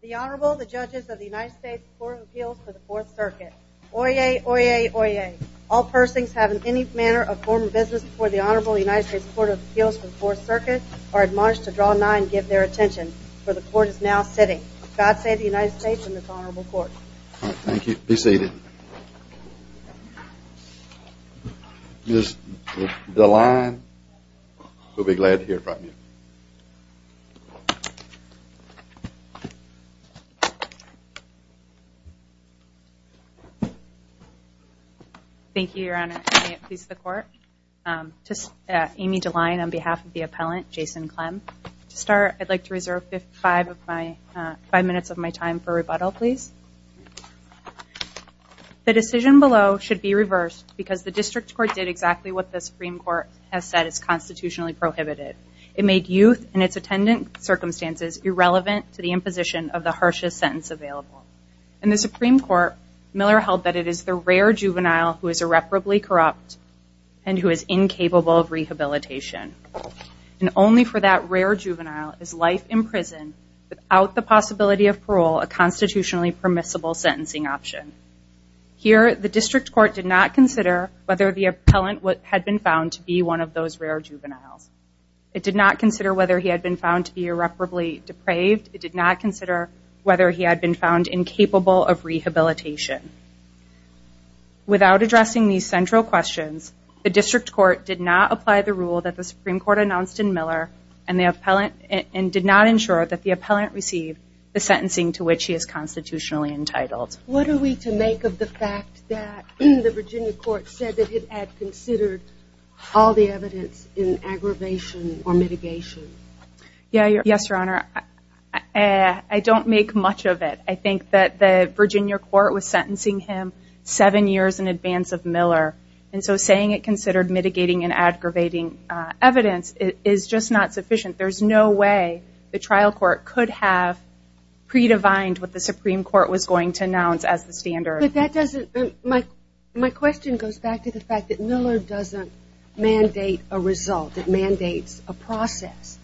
The Honorable, the Judges of the United States Court of Appeals for the Fourth Circuit. Oyez, oyez, oyez. All persons having any manner of form of business before the Honorable United States Court of Appeals for the Fourth Circuit are admonished to draw nigh and give their attention, for the Court is now sitting. God save the United States and this Honorable Court. All right, thank you. Be seated. Ms. Deline, we'll be glad to hear from you. Thank you, Your Honor. Amy Deline on behalf of the appellant, Jason Clem. To start, I'd like to reserve five minutes of my time for rebuttal, please. The decision below should be reversed because the District Court did exactly what the Supreme Court has said is constitutionally prohibited. It made youth and its attendant circumstances irrelevant to the imposition of the harshest sentence available. In the Supreme Court, Miller held that it is the rare juvenile who is irreparably corrupt and who is incapable of rehabilitation. And only for that rare juvenile is life in prison without the possibility of parole a constitutionally permissible sentencing option. Here, the District Court did not consider whether the appellant had been found to be one of those rare juveniles. It did not consider whether he had been found to be irreparably depraved. It did not consider whether he had been found incapable of rehabilitation. Without addressing these central questions, the District Court did not apply the rule that the Supreme Court announced in Miller and did not ensure that the appellant received the sentencing to which he is constitutionally entitled. What are we to make of the fact that the Virginia Court said that it had considered all the evidence in aggravation or mitigation? Yes, Your Honor. I don't make much of it. I think that the Virginia Court was sentencing him seven years in advance of Miller, and so saying it considered mitigating and aggravating evidence is just not sufficient. There's no way the trial court could have predefined what the Supreme Court was going to announce as the standard. My question goes back to the fact that Miller doesn't mandate a result. It mandates a process.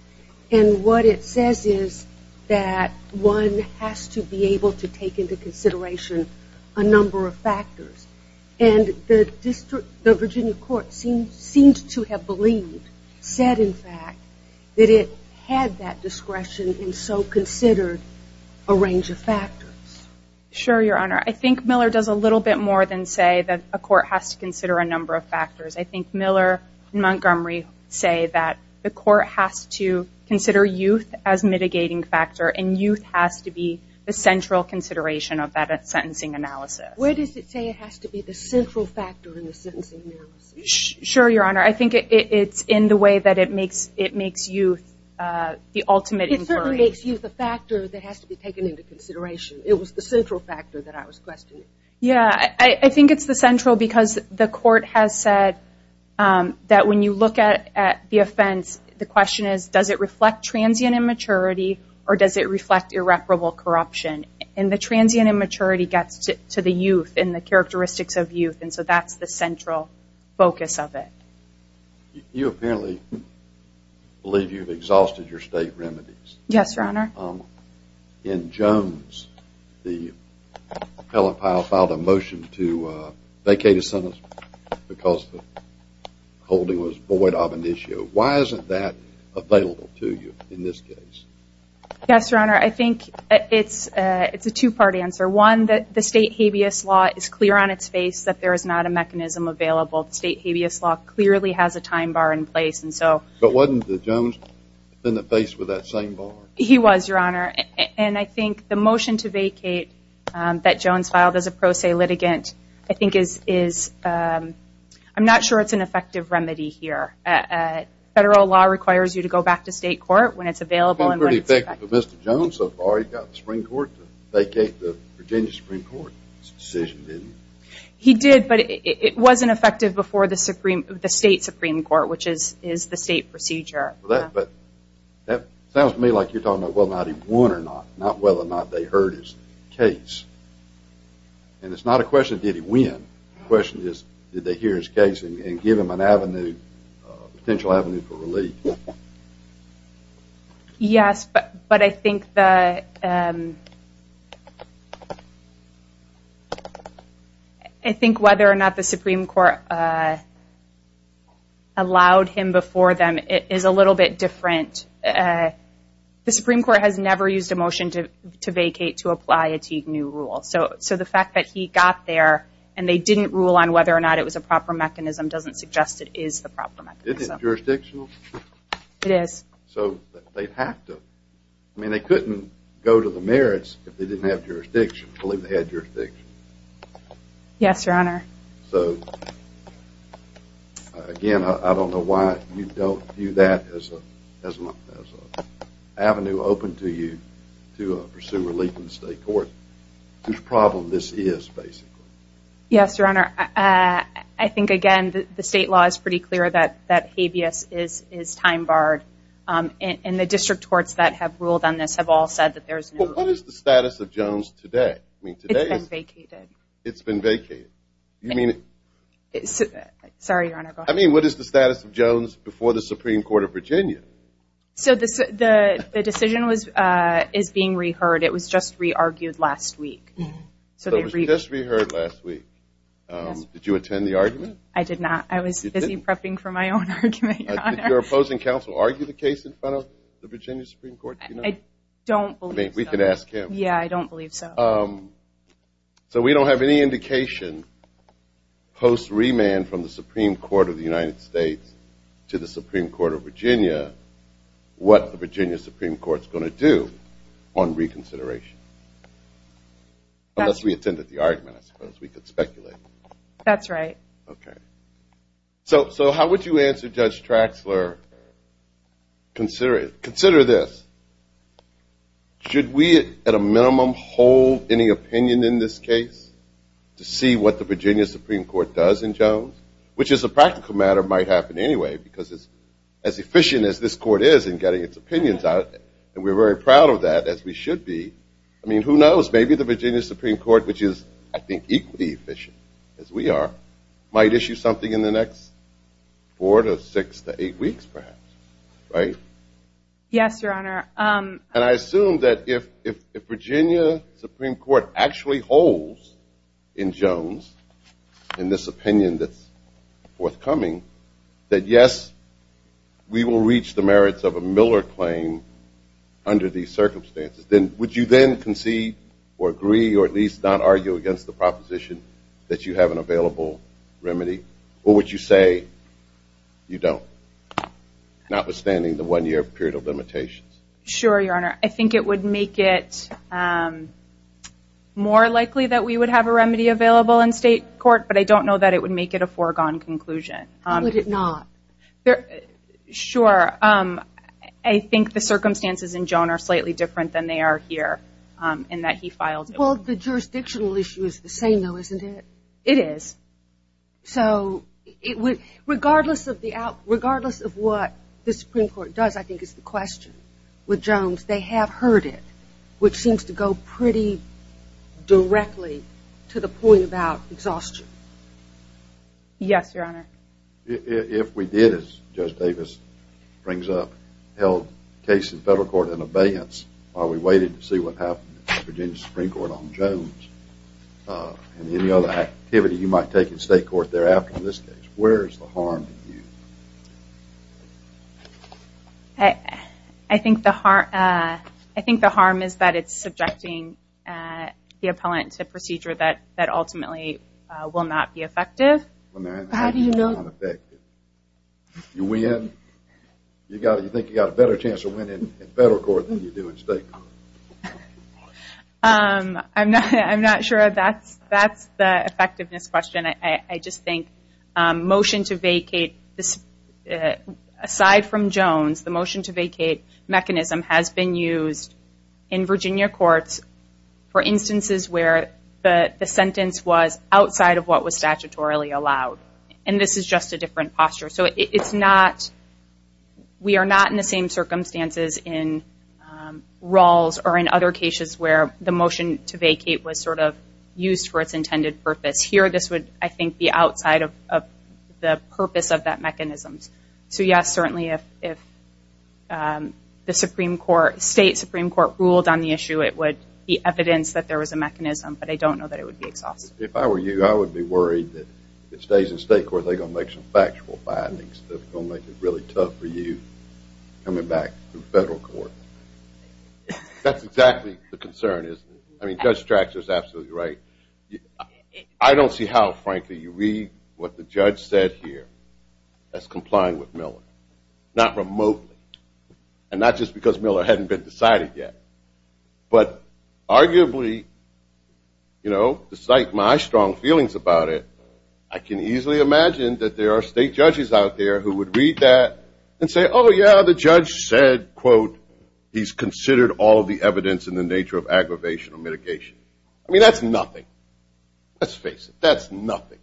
And what it says is that one has to be able to take into consideration a number of factors. And the Virginia Court seemed to have believed, said in fact, that it had that discretion and so considered a range of factors. Sure, Your Honor. I think Miller does a little bit more than say that a court has to consider a number of factors. I think Miller and Montgomery say that the court has to consider youth as mitigating factor and youth has to be the central consideration of that sentencing analysis. Where does it say it has to be the central factor in the sentencing analysis? Sure, Your Honor. I think it's in the way that it makes youth the ultimate inquiry. It makes youth a factor that has to be taken into consideration. It was the central factor that I was questioning. Yeah, I think it's the central because the court has said that when you look at the offense, the question is does it reflect transient immaturity or does it reflect irreparable corruption? And the transient immaturity gets to the youth and the characteristics of youth, and so that's the central focus of it. You apparently believe you've exhausted your state remedies. Yes, Your Honor. In Jones, the appellant filed a motion to vacate a sentence because the holding was void of an issue. Why isn't that available to you in this case? Yes, Your Honor. I think it's a two-part answer. One, the state habeas law is clear on its face that there is not a mechanism available. The state habeas law clearly has a time bar in place. But wasn't the Jones defendant faced with that same bar? He was, Your Honor, and I think the motion to vacate that Jones filed as a pro se litigant, I'm not sure it's an effective remedy here. Federal law requires you to go back to state court when it's available and when it's effective. It seemed pretty effective to Mr. Jones so far. He got the Supreme Court to vacate the Virginia Supreme Court's decision, didn't he? He did, but it wasn't effective before the state Supreme Court, which is the state procedure. That sounds to me like you're talking about whether or not he won or not, not whether or not they heard his case. And it's not a question of did he win, the question is did they hear his case and give him an avenue, a potential avenue for relief. Yes, but I think whether or not the Supreme Court allowed him before them is a little bit different. The Supreme Court has never used a motion to vacate to apply a new rule. So the fact that he got there and they didn't rule on whether or not it was a proper mechanism doesn't suggest it is the proper mechanism. Isn't it jurisdictional? It is. So they have to. I mean, they couldn't go to the merits if they didn't have jurisdiction. I believe they had jurisdiction. Yes, Your Honor. So, again, I don't know why you don't view that as an avenue open to you to pursue relief in the state court. Whose problem this is, basically? Yes, Your Honor. I think, again, the state law is pretty clear that habeas is time barred. And the district courts that have ruled on this have all said that there is no... Well, what is the status of Jones today? It's been vacated. It's been vacated. Sorry, Your Honor, go ahead. I mean, what is the status of Jones before the Supreme Court of Virginia? So the decision is being re-heard. It was just re-argued last week. So it was just re-heard last week. Did you attend the argument? I did not. I was busy prepping for my own argument, Your Honor. Did your opposing counsel argue the case in front of the Virginia Supreme Court tonight? I don't believe so. I mean, we could ask him. Yeah, I don't believe so. So we don't have any indication post remand from the Supreme Court of the United States to the Supreme Court of Virginia what the Virginia Supreme Court is going to do on reconsideration. Unless we attended the argument, I suppose we could speculate. That's right. Okay. So how would you answer Judge Traxler? Consider this. Should we at a minimum hold any opinion in this case to see what the Virginia Supreme Court does in Jones? Which, as a practical matter, might happen anyway because it's as efficient as this court is in getting its opinions out. And we're very proud of that, as we should be. I mean, who knows? Maybe the Virginia Supreme Court, which is, I think, equally efficient as we are, might issue something in the next four to six to eight weeks, perhaps. Right? Yes, Your Honor. And I assume that if Virginia Supreme Court actually holds in Jones, in this opinion that's forthcoming, that, yes, we will reach the merits of a Miller claim under these circumstances, then would you then concede or agree or at least not argue against the proposition that you have an available remedy? Or would you say you don't, notwithstanding the one-year period of limitations? Sure, Your Honor. I think it would make it more likely that we would have a remedy available in state court, but I don't know that it would make it a foregone conclusion. How would it not? Sure. I think the circumstances in Jones are slightly different than they are here in that he filed it. Well, the jurisdictional issue is the same, though, isn't it? It is. So regardless of what the Supreme Court does, I think it's the question. With Jones, they have heard it, which seems to go pretty directly to the point about exhaustion. Yes, Your Honor. If we did, as Judge Davis brings up, held cases in federal court in abeyance while we waited to see what happened in the Virginia Supreme Court on Jones and any other activity you might take in state court thereafter in this case, where is the harm to you? I think the harm is that it's subjecting the appellant to procedure that ultimately will not be effective. How do you know? You win. You think you've got a better chance of winning in federal court than you do in state court. I'm not sure that's the effectiveness question. I just think motion to vacate, aside from Jones, the motion to vacate mechanism has been used in Virginia courts for instances where the sentence was outside of what was statutorily allowed. And this is just a different posture. So we are not in the same circumstances in Rawls or in other cases where the motion to vacate was sort of used for its intended purpose. Here, this would, I think, be outside of the purpose of that mechanism. So, yes, certainly if the state Supreme Court ruled on the issue, it would be evidence that there was a mechanism, but I don't know that it would be exhausted. If I were you, I would be worried that if it stays in state court, they're going to make some factual findings that are going to make it really tough for you coming back to federal court. That's exactly the concern, isn't it? I mean, Judge Strachter is absolutely right. I don't see how, frankly, you read what the judge said here as complying with Miller, not remotely, and not just because Miller hadn't been decided yet. But arguably, you know, despite my strong feelings about it, I can easily imagine that there are state judges out there who would read that and say, oh, yeah, the judge said, quote, he's considered all of the evidence in the nature of aggravation or mitigation. I mean, that's nothing. Let's face it, that's nothing.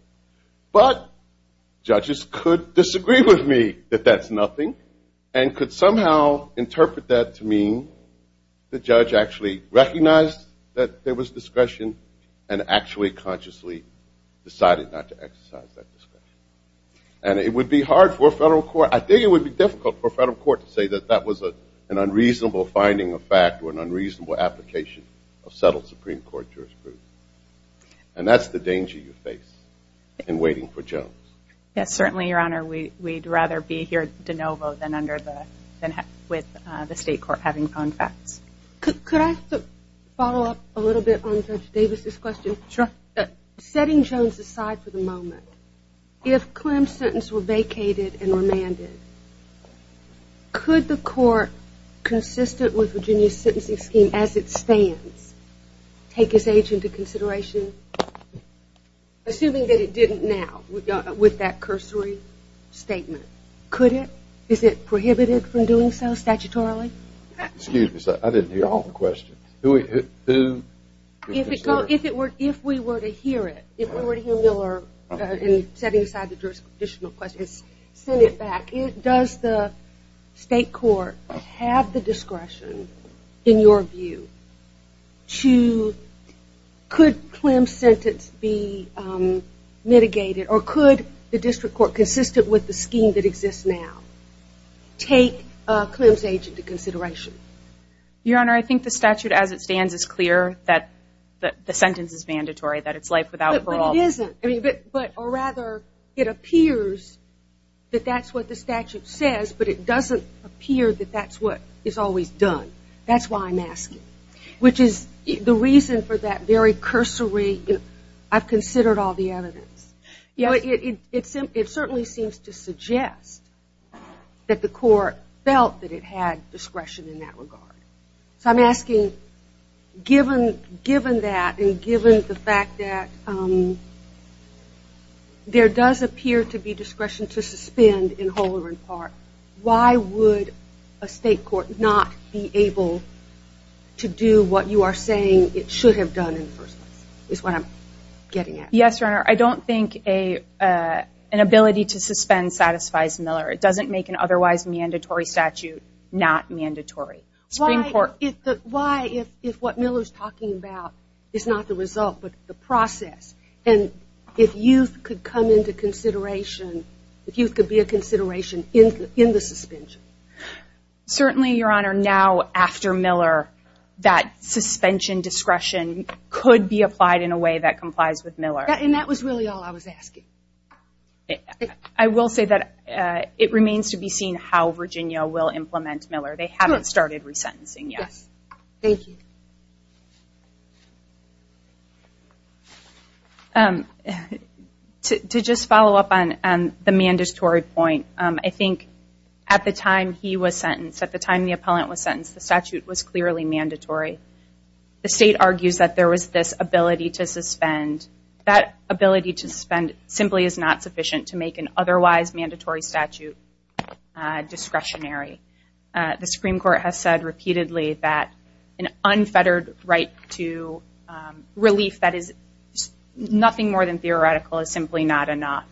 But judges could disagree with me that that's nothing and could somehow interpret that to mean the judge actually recognized that there was discretion and actually consciously decided not to exercise that discretion. And it would be hard for a federal court, I think it would be difficult for a federal court to say that that was an unreasonable finding of fact or an unreasonable application of settled Supreme Court jurisprudence. And that's the danger you face in waiting for Jones. Yes, certainly, Your Honor. We'd rather be here de novo than with the state court having found facts. Could I follow up a little bit on Judge Davis's question? Sure. Setting Jones aside for the moment, if Clem's sentence were vacated and remanded, could the court, consistent with Virginia's sentencing scheme as it stands, take his age into consideration, assuming that it didn't now, with that cursory statement? Could it? Is it prohibited from doing so statutorily? Excuse me, sir. I didn't hear all the questions. If we were to hear it, if we were to hear Miller setting aside the jurisdictional questions, send it back, does the state court have the discretion, in your view, to could Clem's sentence be mitigated or could the district court, consistent with the scheme that exists now, take Clem's age into consideration? Your Honor, I think the statute as it stands is clear that the sentence is mandatory, that it's life without parole. But it isn't. Or rather, it appears that that's what the statute says, but it doesn't appear that that's what is always done. That's why I'm asking, which is the reason for that very cursory, I've considered all the evidence. It certainly seems to suggest that the court felt that it had discretion in that regard. So I'm asking, given that and given the fact that there does appear to be discretion to suspend in whole or in part, why would a state court not be able to do what you are saying it should have done in the first place, is what I'm getting at. Yes, Your Honor. I don't think an ability to suspend satisfies Miller. It doesn't make an otherwise mandatory statute not mandatory. Why, if what Miller's talking about is not the result but the process, and if youth could come into consideration, if youth could be a consideration in the suspension. Certainly, Your Honor, now after Miller, that suspension discretion could be applied in a way that complies with Miller. And that was really all I was asking. I will say that it remains to be seen how Virginia will implement Miller. They haven't started resentencing yet. Yes. Thank you. To just follow up on the mandatory point, I think at the time he was sentenced, at the time the appellant was sentenced, the statute was clearly mandatory. The state argues that there was this ability to suspend. That ability to suspend simply is not sufficient to make an otherwise mandatory statute discretionary. The Supreme Court has said repeatedly that an unfettered right to relief, that is nothing more than theoretical, is simply not enough.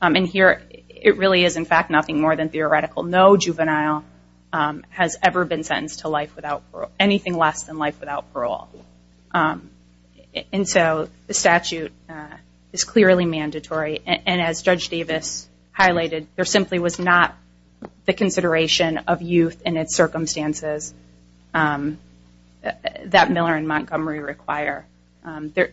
And here it really is, in fact, nothing more than theoretical. No juvenile has ever been sentenced to life without parole, anything less than life without parole. And so the statute is clearly mandatory. And as Judge Davis highlighted, there simply was not the consideration of youth in its circumstances that Miller and Montgomery require.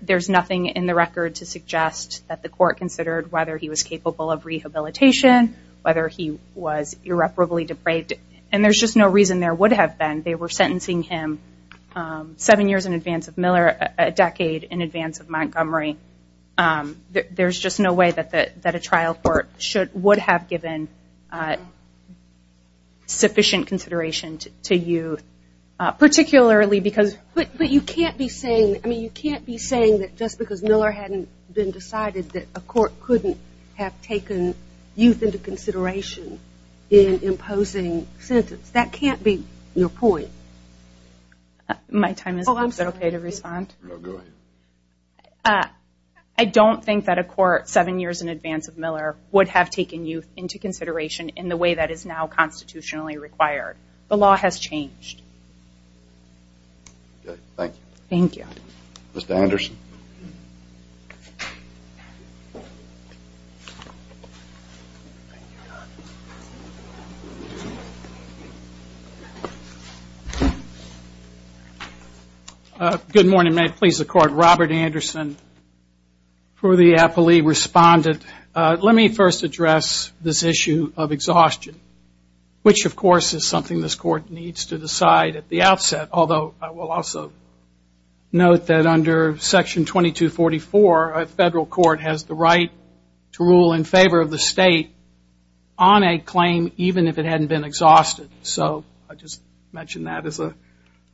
There's nothing in the record to suggest that the court considered whether he was capable of rehabilitation, whether he was irreparably depraved. And there's just no reason there would have been. They were sentencing him seven years in advance of Miller, a decade in advance of Montgomery. There's just no way that a trial court would have given sufficient consideration to youth, particularly because- But you can't be saying, I mean, you can't be saying that just because Miller hadn't been decided that a court couldn't have taken youth into consideration in imposing sentence. That can't be your point. My time is up. Is it okay to respond? No, go ahead. I don't think that a court seven years in advance of Miller would have taken youth into consideration in the way that is now constitutionally required. The law has changed. Okay, thank you. Thank you. Mr. Anderson. Good morning. May it please the court. Robert Anderson for the appellee respondent. Let me first address this issue of exhaustion, which of course is something this court needs to decide at the outset, although I will also note that under Section 2244, a federal court has the right to rule in favor of the state on a claim even if it hadn't been exhausted. So I just mention that as a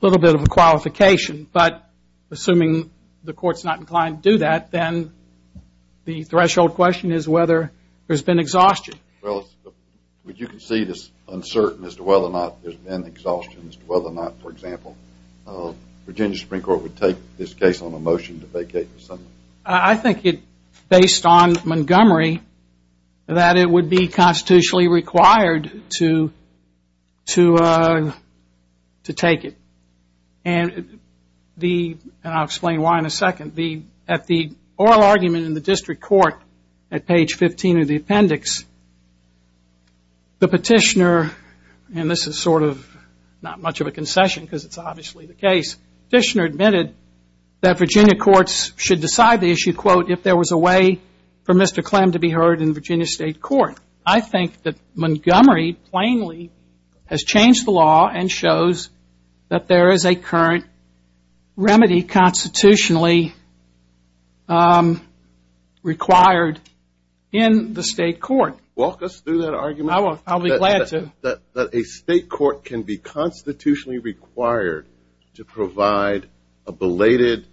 little bit of a qualification. But assuming the court's not inclined to do that, then the threshold question is whether there's been exhaustion. Well, you can see this uncertainty as to whether or not there's been exhaustion, as to whether or not, for example, Virginia Supreme Court would take this case on a motion to vacate the Senate. Well, I think it, based on Montgomery, that it would be constitutionally required to take it. And I'll explain why in a second. At the oral argument in the district court at page 15 of the appendix, the petitioner, and this is sort of not much of a concession because it's obviously the case, the petitioner admitted that Virginia courts should decide the issue, quote, if there was a way for Mr. Clem to be heard in Virginia state court. I think that Montgomery plainly has changed the law and shows that there is a current remedy constitutionally required in the state court. Walk us through that argument. I'll be glad to. That a state court can be constitutionally required to provide a belated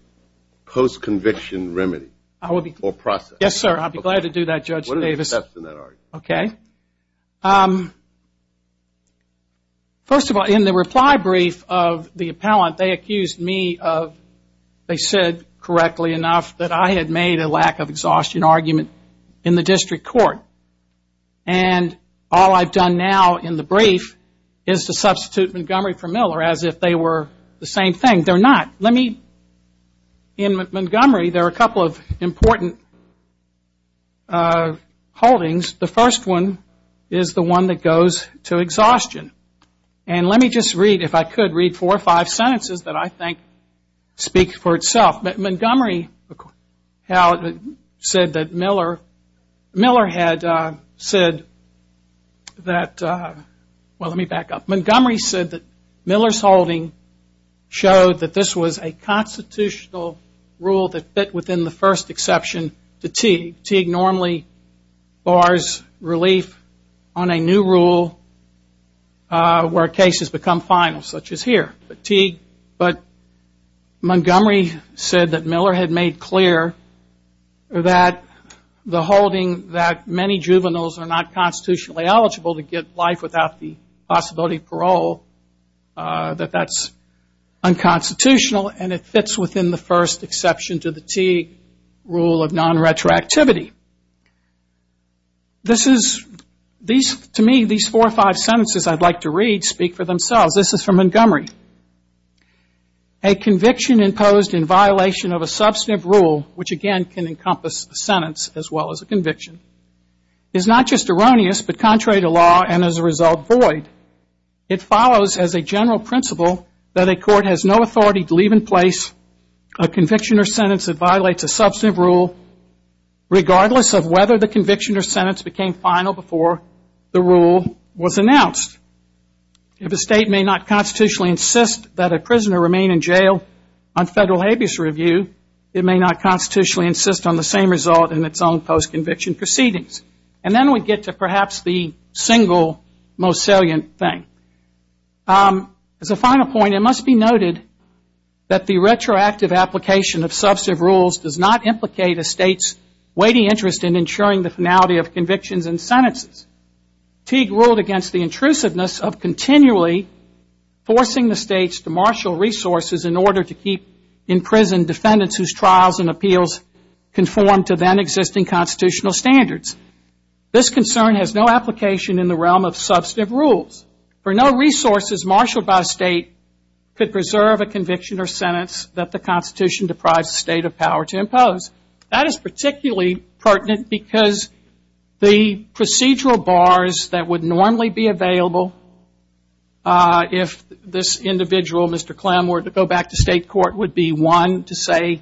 post-conviction remedy or process. Yes, sir, I'll be glad to do that, Judge Davis. What are the steps in that argument? Okay. First of all, in the reply brief of the appellant, they accused me of, they said correctly enough, that I had made a lack of exhaustion argument in the district court. And all I've done now in the brief is to substitute Montgomery for Miller as if they were the same thing. They're not. In Montgomery, there are a couple of important holdings. The first one is the one that goes to exhaustion. And let me just read, if I could, read four or five sentences that I think speak for itself. Montgomery said that Miller had said that, well, let me back up. Montgomery said that Miller's holding showed that this was a constitutional rule that fit within the first exception to Teague. Teague normally bars relief on a new rule where cases become final, such as here. But Montgomery said that Miller had made clear that the holding that many juveniles are not constitutionally eligible to get life without the possibility of parole, that that's unconstitutional, and it fits within the first exception to the Teague rule of non-retroactivity. This is, to me, these four or five sentences I'd like to read speak for themselves. This is from Montgomery. A conviction imposed in violation of a substantive rule, which, again, can encompass a sentence as well as a conviction, is not just erroneous but contrary to law and, as a result, void. It follows as a general principle that a court has no authority to leave in place a conviction or sentence that violates a substantive rule regardless of whether the conviction or sentence became final before the rule was announced. If a state may not constitutionally insist that a prisoner remain in jail on federal habeas review, it may not constitutionally insist on the same result in its own post-conviction proceedings. And then we get to perhaps the single most salient thing. As a final point, it must be noted that the retroactive application of substantive rules does not implicate a state's weighty interest in ensuring the finality of convictions and sentences. Teague ruled against the intrusiveness of continually forcing the states to marshal resources in order to keep in prison defendants whose trials and appeals conform to then-existing constitutional standards. This concern has no application in the realm of substantive rules, for no resources marshaled by a state could preserve a conviction or sentence that the Constitution deprives the state of power to impose. That is particularly pertinent because the procedural bars that would normally be available if this individual, Mr. Clem, were to go back to state court would be, one, to say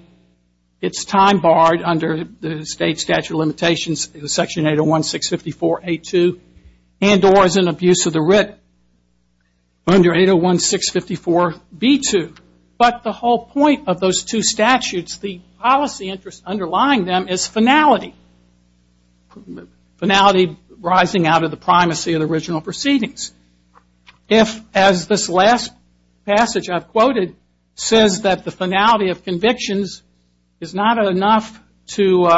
it's time barred under the state's statute of limitations, Section 801-654-A2, and or as an abuse of the writ under 801-654-B2. But the whole point of those two statutes, the policy interest underlying them is finality. Finality rising out of the primacy of the original proceedings. As this last passage I've quoted says that the finality of convictions is not enough to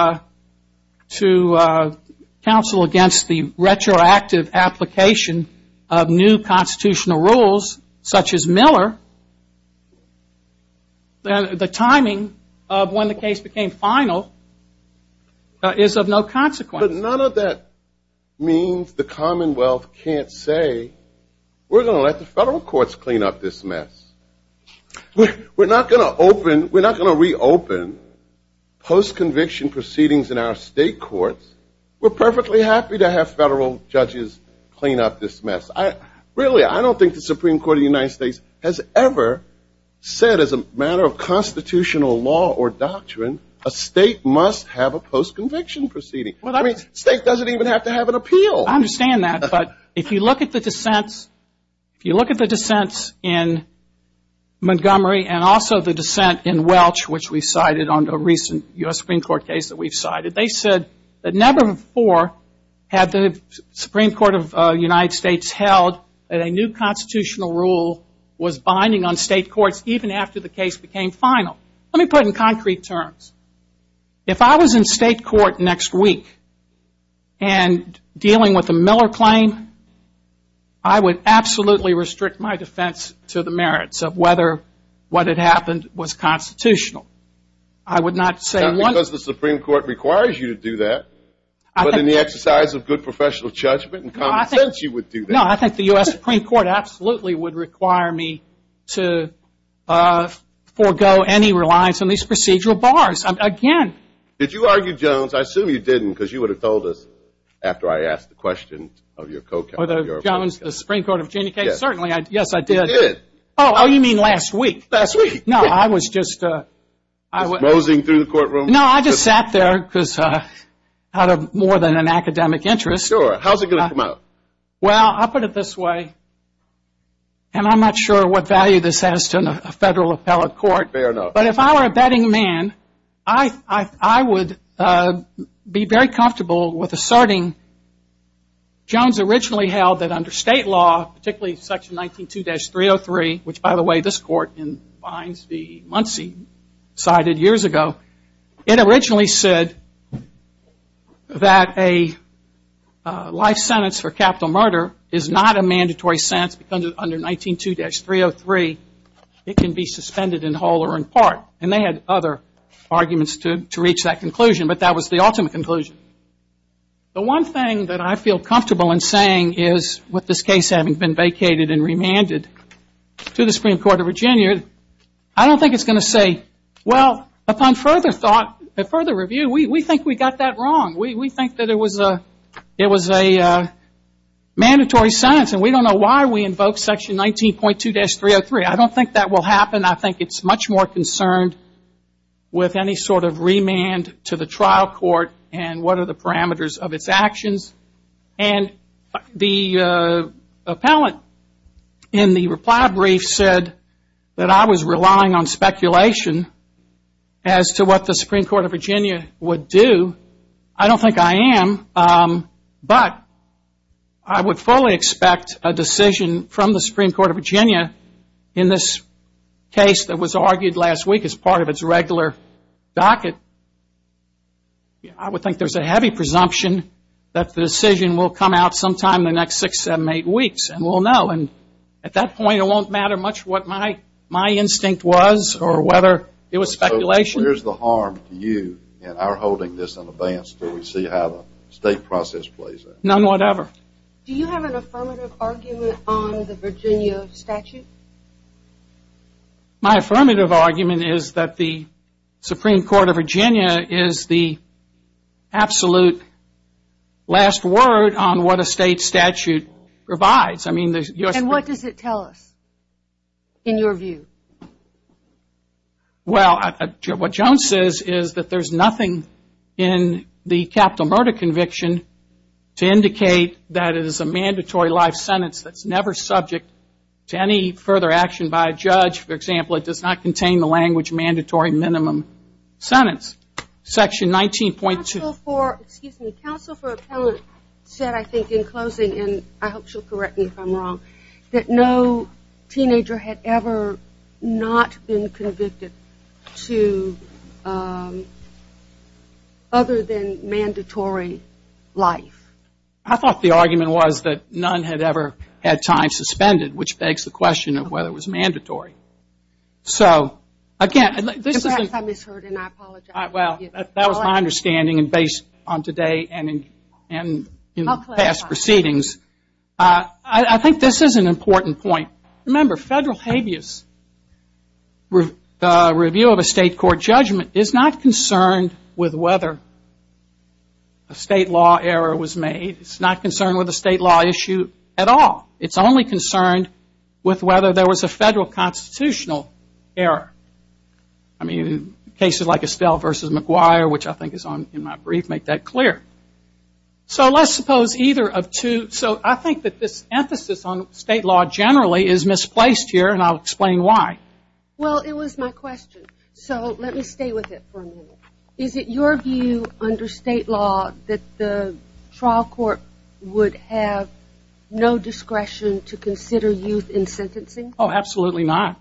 counsel against the retroactive application of new constitutional rules such as Miller. The timing of when the case became final is of no consequence. But none of that means the Commonwealth can't say we're going to let the federal courts clean up this mess. We're not going to reopen post-conviction proceedings in our state courts. We're perfectly happy to have federal judges clean up this mess. Really, I don't think the Supreme Court of the United States has ever said as a matter of constitutional law or doctrine, a state must have a post-conviction proceeding. State doesn't even have to have an appeal. I understand that, but if you look at the dissents in Montgomery and also the dissent in Welch, which we cited under a recent U.S. Supreme Court case that we've cited, they said that never before had the Supreme Court of the United States held that a new constitutional rule was binding on state courts, even after the case became final. Let me put it in concrete terms. If I was in state court next week and dealing with a Miller claim, I would absolutely restrict my defense to the merits of whether what had happened was constitutional. Not because the Supreme Court requires you to do that, but in the exercise of good professional judgment and common sense, you would do that. No, I think the U.S. Supreme Court absolutely would require me to forego any reliance on these procedural bars. Again. Did you argue, Jones? I assume you didn't, because you would have told us after I asked the question of your co-counsel. Yes, I did. Oh, you mean last week? No, I just sat there out of more than an academic interest. Well, I'll put it this way, and I'm not sure what value this has to a federal appellate court, but if I were a betting man, I would be very comfortable with asserting Jones originally held that under state law, particularly section 192-303, which, by the way, this court in Fines v. Muncie cited years ago, it originally said that a life sentence for capital murder is not a mandatory sentence because under 192-303, it can be suspended in whole or in part, and they had other arguments to reach that conclusion, but that was the ultimate conclusion. The one thing that I feel comfortable in saying is, with this case having been vacated and remanded to the Supreme Court of Virginia, I don't think it's going to say, well, upon further thought, further review, we think we got that wrong. We think that it was a mandatory sentence, and we don't know why we invoked section 19.2-303. I don't think that will happen. I think it's much more concerned with any sort of remand to the trial court and what are the parameters of its actions, and the appellate in the reply brief said that I was relying on speculation as to what the Supreme Court of Virginia would do. I don't think I am, but I would fully expect a decision from the Supreme Court of Virginia in this case, that was argued last week as part of its regular docket. I would think there's a heavy presumption that the decision will come out sometime in the next six, seven, eight weeks, and we'll know. And at that point, it won't matter much what my instinct was or whether it was speculation. Where's the harm to you and our holding this in advance until we see how the state process plays out? None whatever. Do you have an affirmative argument on the Virginia statute? My affirmative argument is that the Supreme Court of Virginia is the absolute last word on what a state statute provides. And what does it tell us, in your view? Well, what Jones says is that there's nothing in the capital murder conviction to indicate that it is a mandatory life sentence that's never subject to any further action by a judge. For example, it does not contain the language mandatory minimum sentence. Section 19.2. Council for Appellate said, I think, in closing, and I hope she'll correct me if I'm wrong, that no teenager had ever not been convicted to other than mandatory life. I thought the argument was that none had ever had time suspended, which begs the question of whether it was mandatory. So, again, this isn't... Well, that was my understanding based on today and in past proceedings. I think this is an important point. Remember, federal habeas, the review of a state court judgment is not concerned with whether a state law error was made. It's not concerned with a state law issue at all. It's only concerned with whether there was a federal constitutional amendment. I mean, cases like Estelle v. McGuire, which I think is in my brief, make that clear. So let's suppose either of two. So I think that this emphasis on state law generally is misplaced here, and I'll explain why. Well, it was my question. So let me stay with it for a minute. Is it your view under state law that the trial court would have no discretion to consider youth in sentencing? Oh, absolutely not.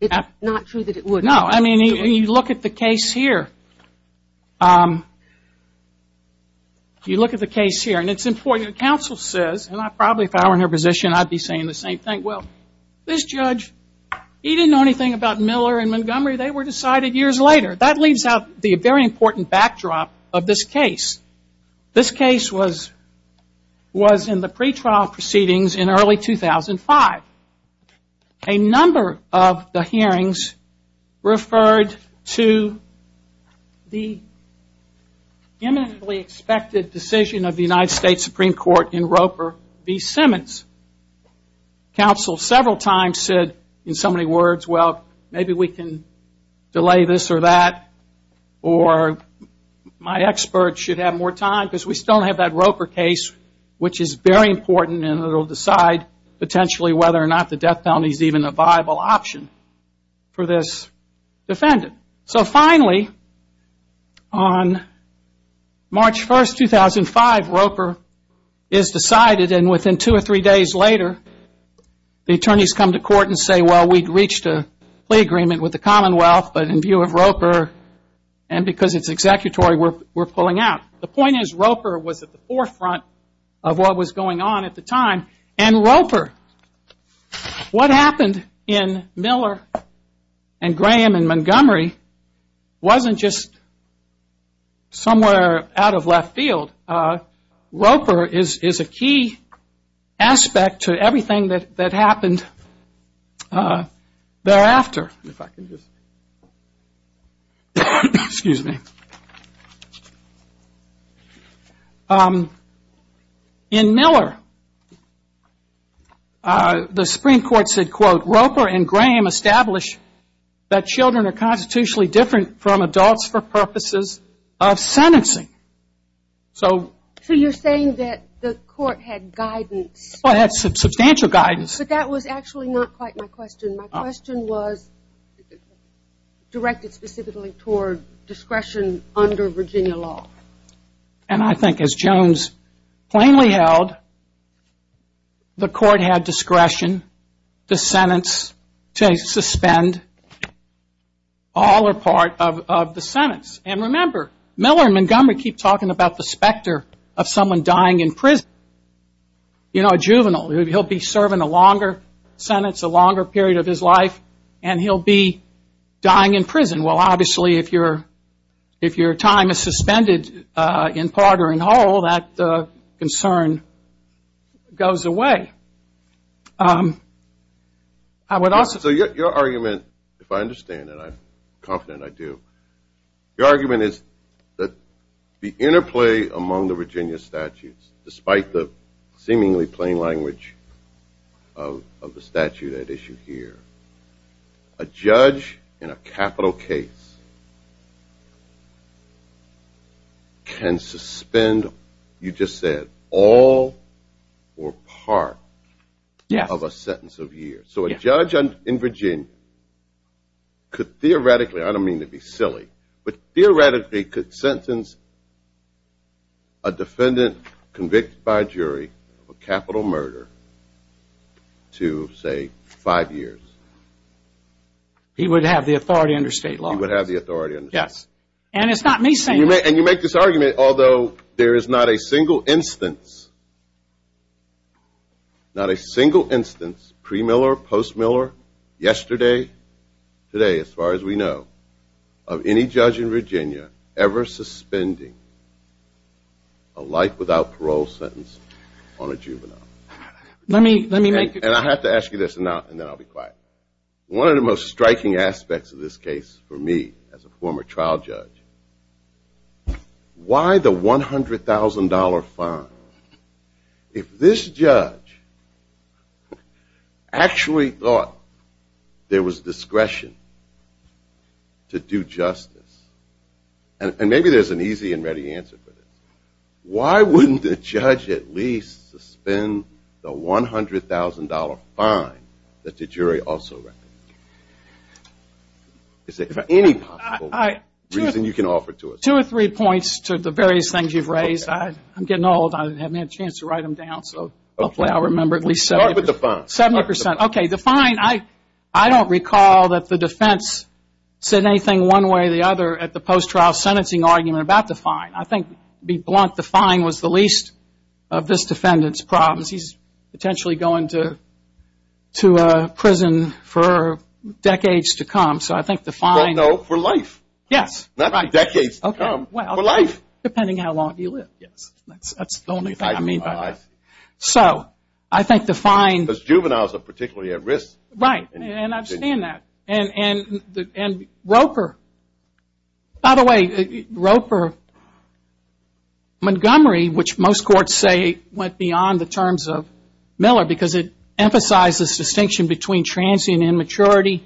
It's not true that it would? No. I mean, you look at the case here. You look at the case here, and it's important. The counsel says, and I probably, if I were in her position, I'd be saying the same thing. Well, this judge, he didn't know anything about Miller and Montgomery. They were decided years later. That leaves out the very important backdrop of this case. This case was in the pretrial proceedings in early 2005. A number of the hearings referred to the imminently expected decision of the United States Supreme Court in Roper v. Simmons. The counsel several times said, in so many words, well, maybe we can delay this or that, or my experts should have more time, because we still have that Roper case, which is very important, and it will decide, potentially, whether or not the death penalty should be extended. Death penalty is even a viable option for this defendant. So finally, on March 1, 2005, Roper is decided, and within two or three days later, the attorneys come to court and say, well, we'd reached a plea agreement with the Commonwealth, but in view of Roper, and because it's executory, we're pulling out. The point is, Roper was at the forefront of what was going on at the time, and Roper, what happened? In Miller, and Graham, and Montgomery, wasn't just somewhere out of left field. Roper is a key aspect to everything that happened thereafter. In Miller, the Supreme Court said, quote, Roper and Graham established that children are constitutionally different from adults for purposes of sentencing. So... So you're saying that the court had guidance? Well, it had substantial guidance. But that was actually not quite my question. My question was directed specifically toward discretion under Virginia law. And I think, as Jones plainly held, the court had discretion to sentence, to suspend all or part of the sentence. And remember, Miller and Montgomery keep talking about the specter of someone dying in prison. You know, a juvenile, he'll be serving a longer sentence, a longer period of his life, and he'll be dying in prison. Well, obviously, if your time is suspended, it's not a juvenile. In part or in whole, that concern goes away. I would also... So your argument, if I understand it, I'm confident I do, your argument is that the interplay among the Virginia statutes, despite the seemingly plain language of the statute at issue here, a judge in a capital case, can suspend, you just said, all or part of a sentence of years. So a judge in Virginia could theoretically, I don't mean to be silly, but theoretically could sentence a defendant convicted by a jury of a capital murder to, say, five years. He would have the authority under state law. Yes. And it's not me saying that. And you make this argument, although there is not a single instance, not a single instance, pre-Miller, post-Miller, yesterday, today, as far as we know, of any judge in Virginia ever suspending a life without parole sentence on a juvenile. And I have to ask you this, and then I'll be quiet. One of the most striking aspects of this case for me, as a former trial judge, why the $100,000 fine, if this judge actually thought there was discretion to do justice, and maybe there's an easy and ready answer for this, why wouldn't the judge at least suspend the $100,000 fine? Is there any possible reason you can offer to us? Two or three points to the various things you've raised. I'm getting old. I haven't had a chance to write them down, so hopefully I'll remember at least 70%. Start with the fine. Okay, the fine, I don't recall that the defense said anything one way or the other at the post-trial sentencing argument about the fine. I think, to be blunt, the fine was the least of this defendant's problems. He's potentially going to prison for decades to come, so I think the fine... Well, no, for life. Not for decades to come, for life. Depending how long he lived, yes. That's the only thing I mean by that. Because juveniles are particularly at risk. Right, and I understand that. And Roper, by the way, Montgomery, which most courts say went beyond the terms of Miller, because it emphasizes distinction between transient immaturity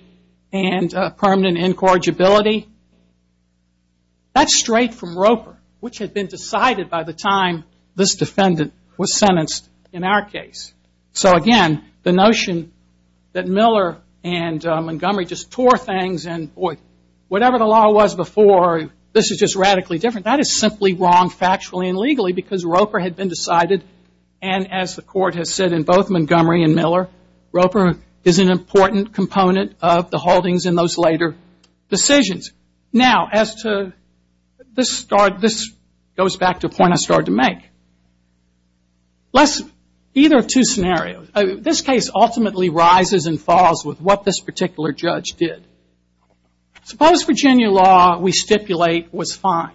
and permanent incorrigibility. That's straight from Roper, which had been decided by the time this defendant was sentenced in our case. So, again, the notion that Miller and Montgomery just tore things and, boy, whatever the law was before, this is just radically different. That is simply wrong factually and legally, because Roper had been decided, and as the court has said in both Montgomery and Miller, Roper is an important component of the holdings in those later decisions. Now, as to, this goes back to a point I started to make. Let's, either of two scenarios. This case ultimately rises and falls with what this particular judge did. Suppose Virginia law, we stipulate, was fine.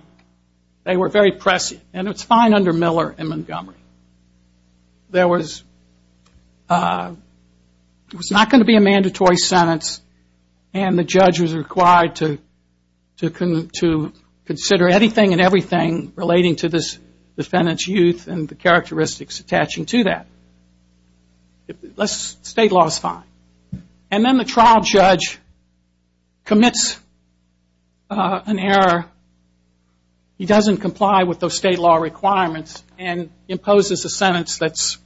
They were very prescient, and it's fine under Miller and Montgomery. There was, it was not going to be a mandatory sentence, and the judge was required to consider anything and everything relating to this defendant's youth and the case. There's no characteristics attaching to that. State law is fine. And then the trial judge commits an error. He doesn't comply with those state law requirements and imposes a sentence that's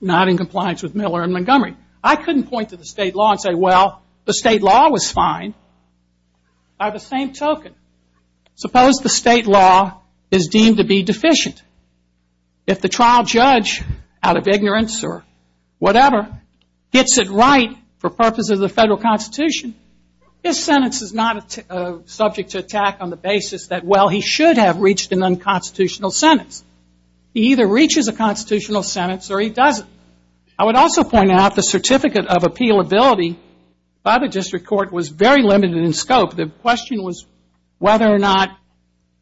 not in compliance with Miller and Montgomery. I couldn't point to the state law and say, well, the state law was fine. By the same token, suppose the state law is deemed to be deficient. The trial judge, out of ignorance or whatever, gets it right for purposes of the federal constitution. His sentence is not subject to attack on the basis that, well, he should have reached an unconstitutional sentence. He either reaches a constitutional sentence or he doesn't. I would also point out the certificate of appealability by the district court was very limited in scope. The question was whether or not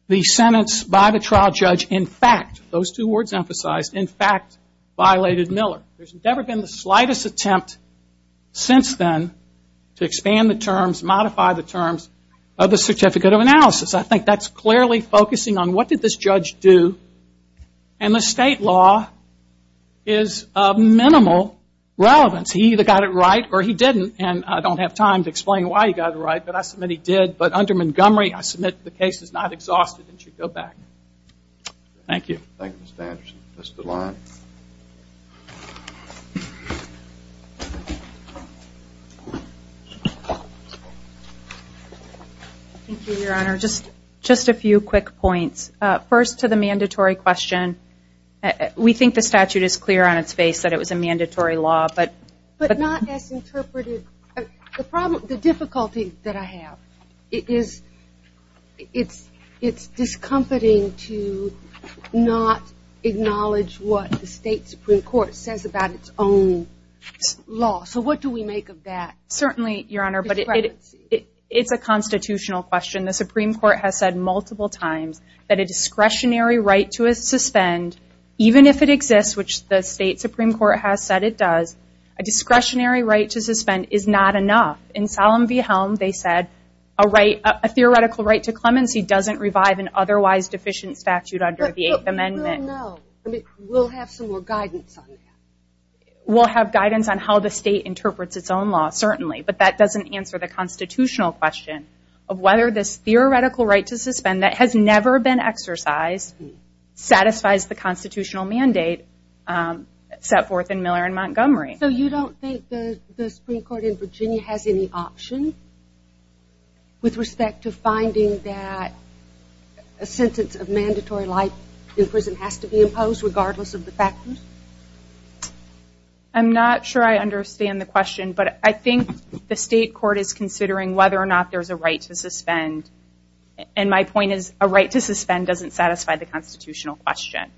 the sentence by the trial judge, in fact, those two words emphasized, in fact, violated Miller. There's never been the slightest attempt since then to expand the terms, modify the terms of the certificate of analysis. I think that's clearly focusing on what did this judge do, and the state law is of minimal relevance. He either got it right or he didn't, and I don't have time to explain why he got it right, but I submit he did. But under Montgomery, I submit the case is not exhausted and should go back. Thank you. Thank you, Your Honor. Just a few quick points. First to the mandatory question. We think the statute is clear on its face that it was a mandatory law. But not as interpreted. The difficulty that I have is it's discomfiting to not acknowledge what the state Supreme Court says about its own law. So what do we make of that discrepancy? It's a constitutional question. The Supreme Court has said multiple times that a discretionary right to suspend, even if it exists, which the state Supreme Court has said it does, a discretionary right to suspend is not enough. In Solemn v. Helm, they said a theoretical right to clemency doesn't revive an otherwise deficient statute under the Eighth Amendment. We'll have some more guidance on that. We'll have guidance on how the state interprets its own law, certainly. But that doesn't answer the constitutional question of whether this theoretical right to suspend that has never been exercised satisfies the constitutional mandate set forth in Miller v. Montgomery. So you don't think the Supreme Court in Virginia has any option with respect to finding that a sentence of mandatory life in prison has to be imposed, regardless of the factors? I'm not sure I understand the question. But I think the state court is considering whether or not there's a right to suspend. And my point is a right to suspend doesn't satisfy the constitutional question.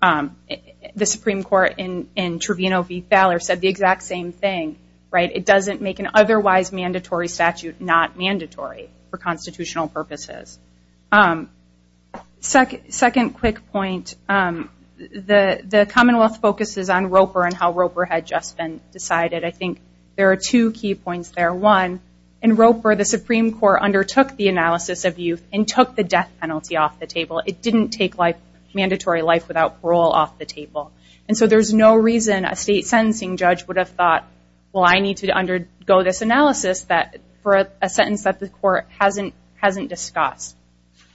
The Supreme Court in Trevino v. Fowler said the exact same thing. It doesn't make an otherwise mandatory statute not mandatory for constitutional purposes. Second quick point, the Commonwealth focuses on Roper and how Roper had just been decided. I think there are two key points there. One, in Roper the Supreme Court undertook the analysis of youth and took the death penalty off the table. It didn't take mandatory life without parole off the table. So there's no reason a state sentencing judge would have thought, well, I need to undergo this analysis for a sentence that the court hasn't discussed.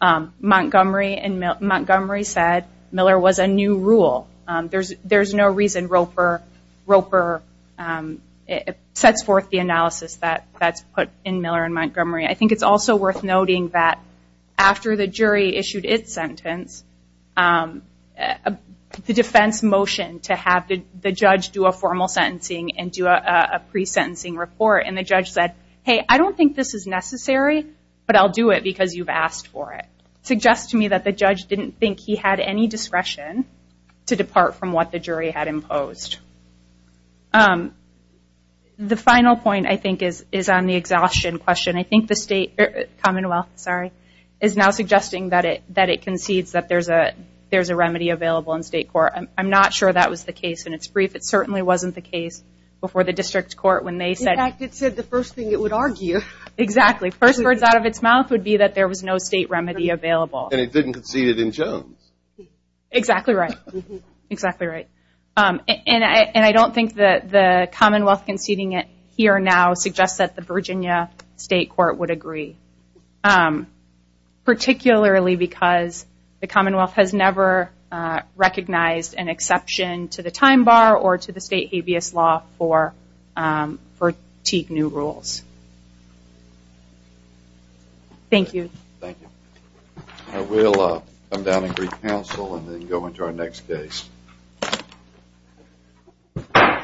Montgomery said Miller was a new rule. There's no reason Roper sets forth the analysis that's put in Miller and Montgomery. I think it's also worth noting that after the jury issued its sentence, the defense motioned to have the judge do a formal sentencing and do a pre-sentencing report. And the judge said, hey, I don't think this is necessary, but I'll do it because you've asked for it. Suggests to me that the judge didn't think he had any discretion to depart from what the jury had imposed. The final point, I think, is on the exhaustion question. I think the Commonwealth is now suggesting that it concedes that there's a remedy available in state court. I'm not sure that was the case in its brief. It certainly wasn't the case before the district court. First words out of its mouth would be that there was no state remedy available. And it didn't concede it in Jones. And I don't think the Commonwealth conceding it here now suggests that the Virginia state court would agree. Particularly because the Commonwealth has never recognized an exception to the time bar or to the state habeas law for new rules. Thank you. We'll come down and brief counsel and go into our next case.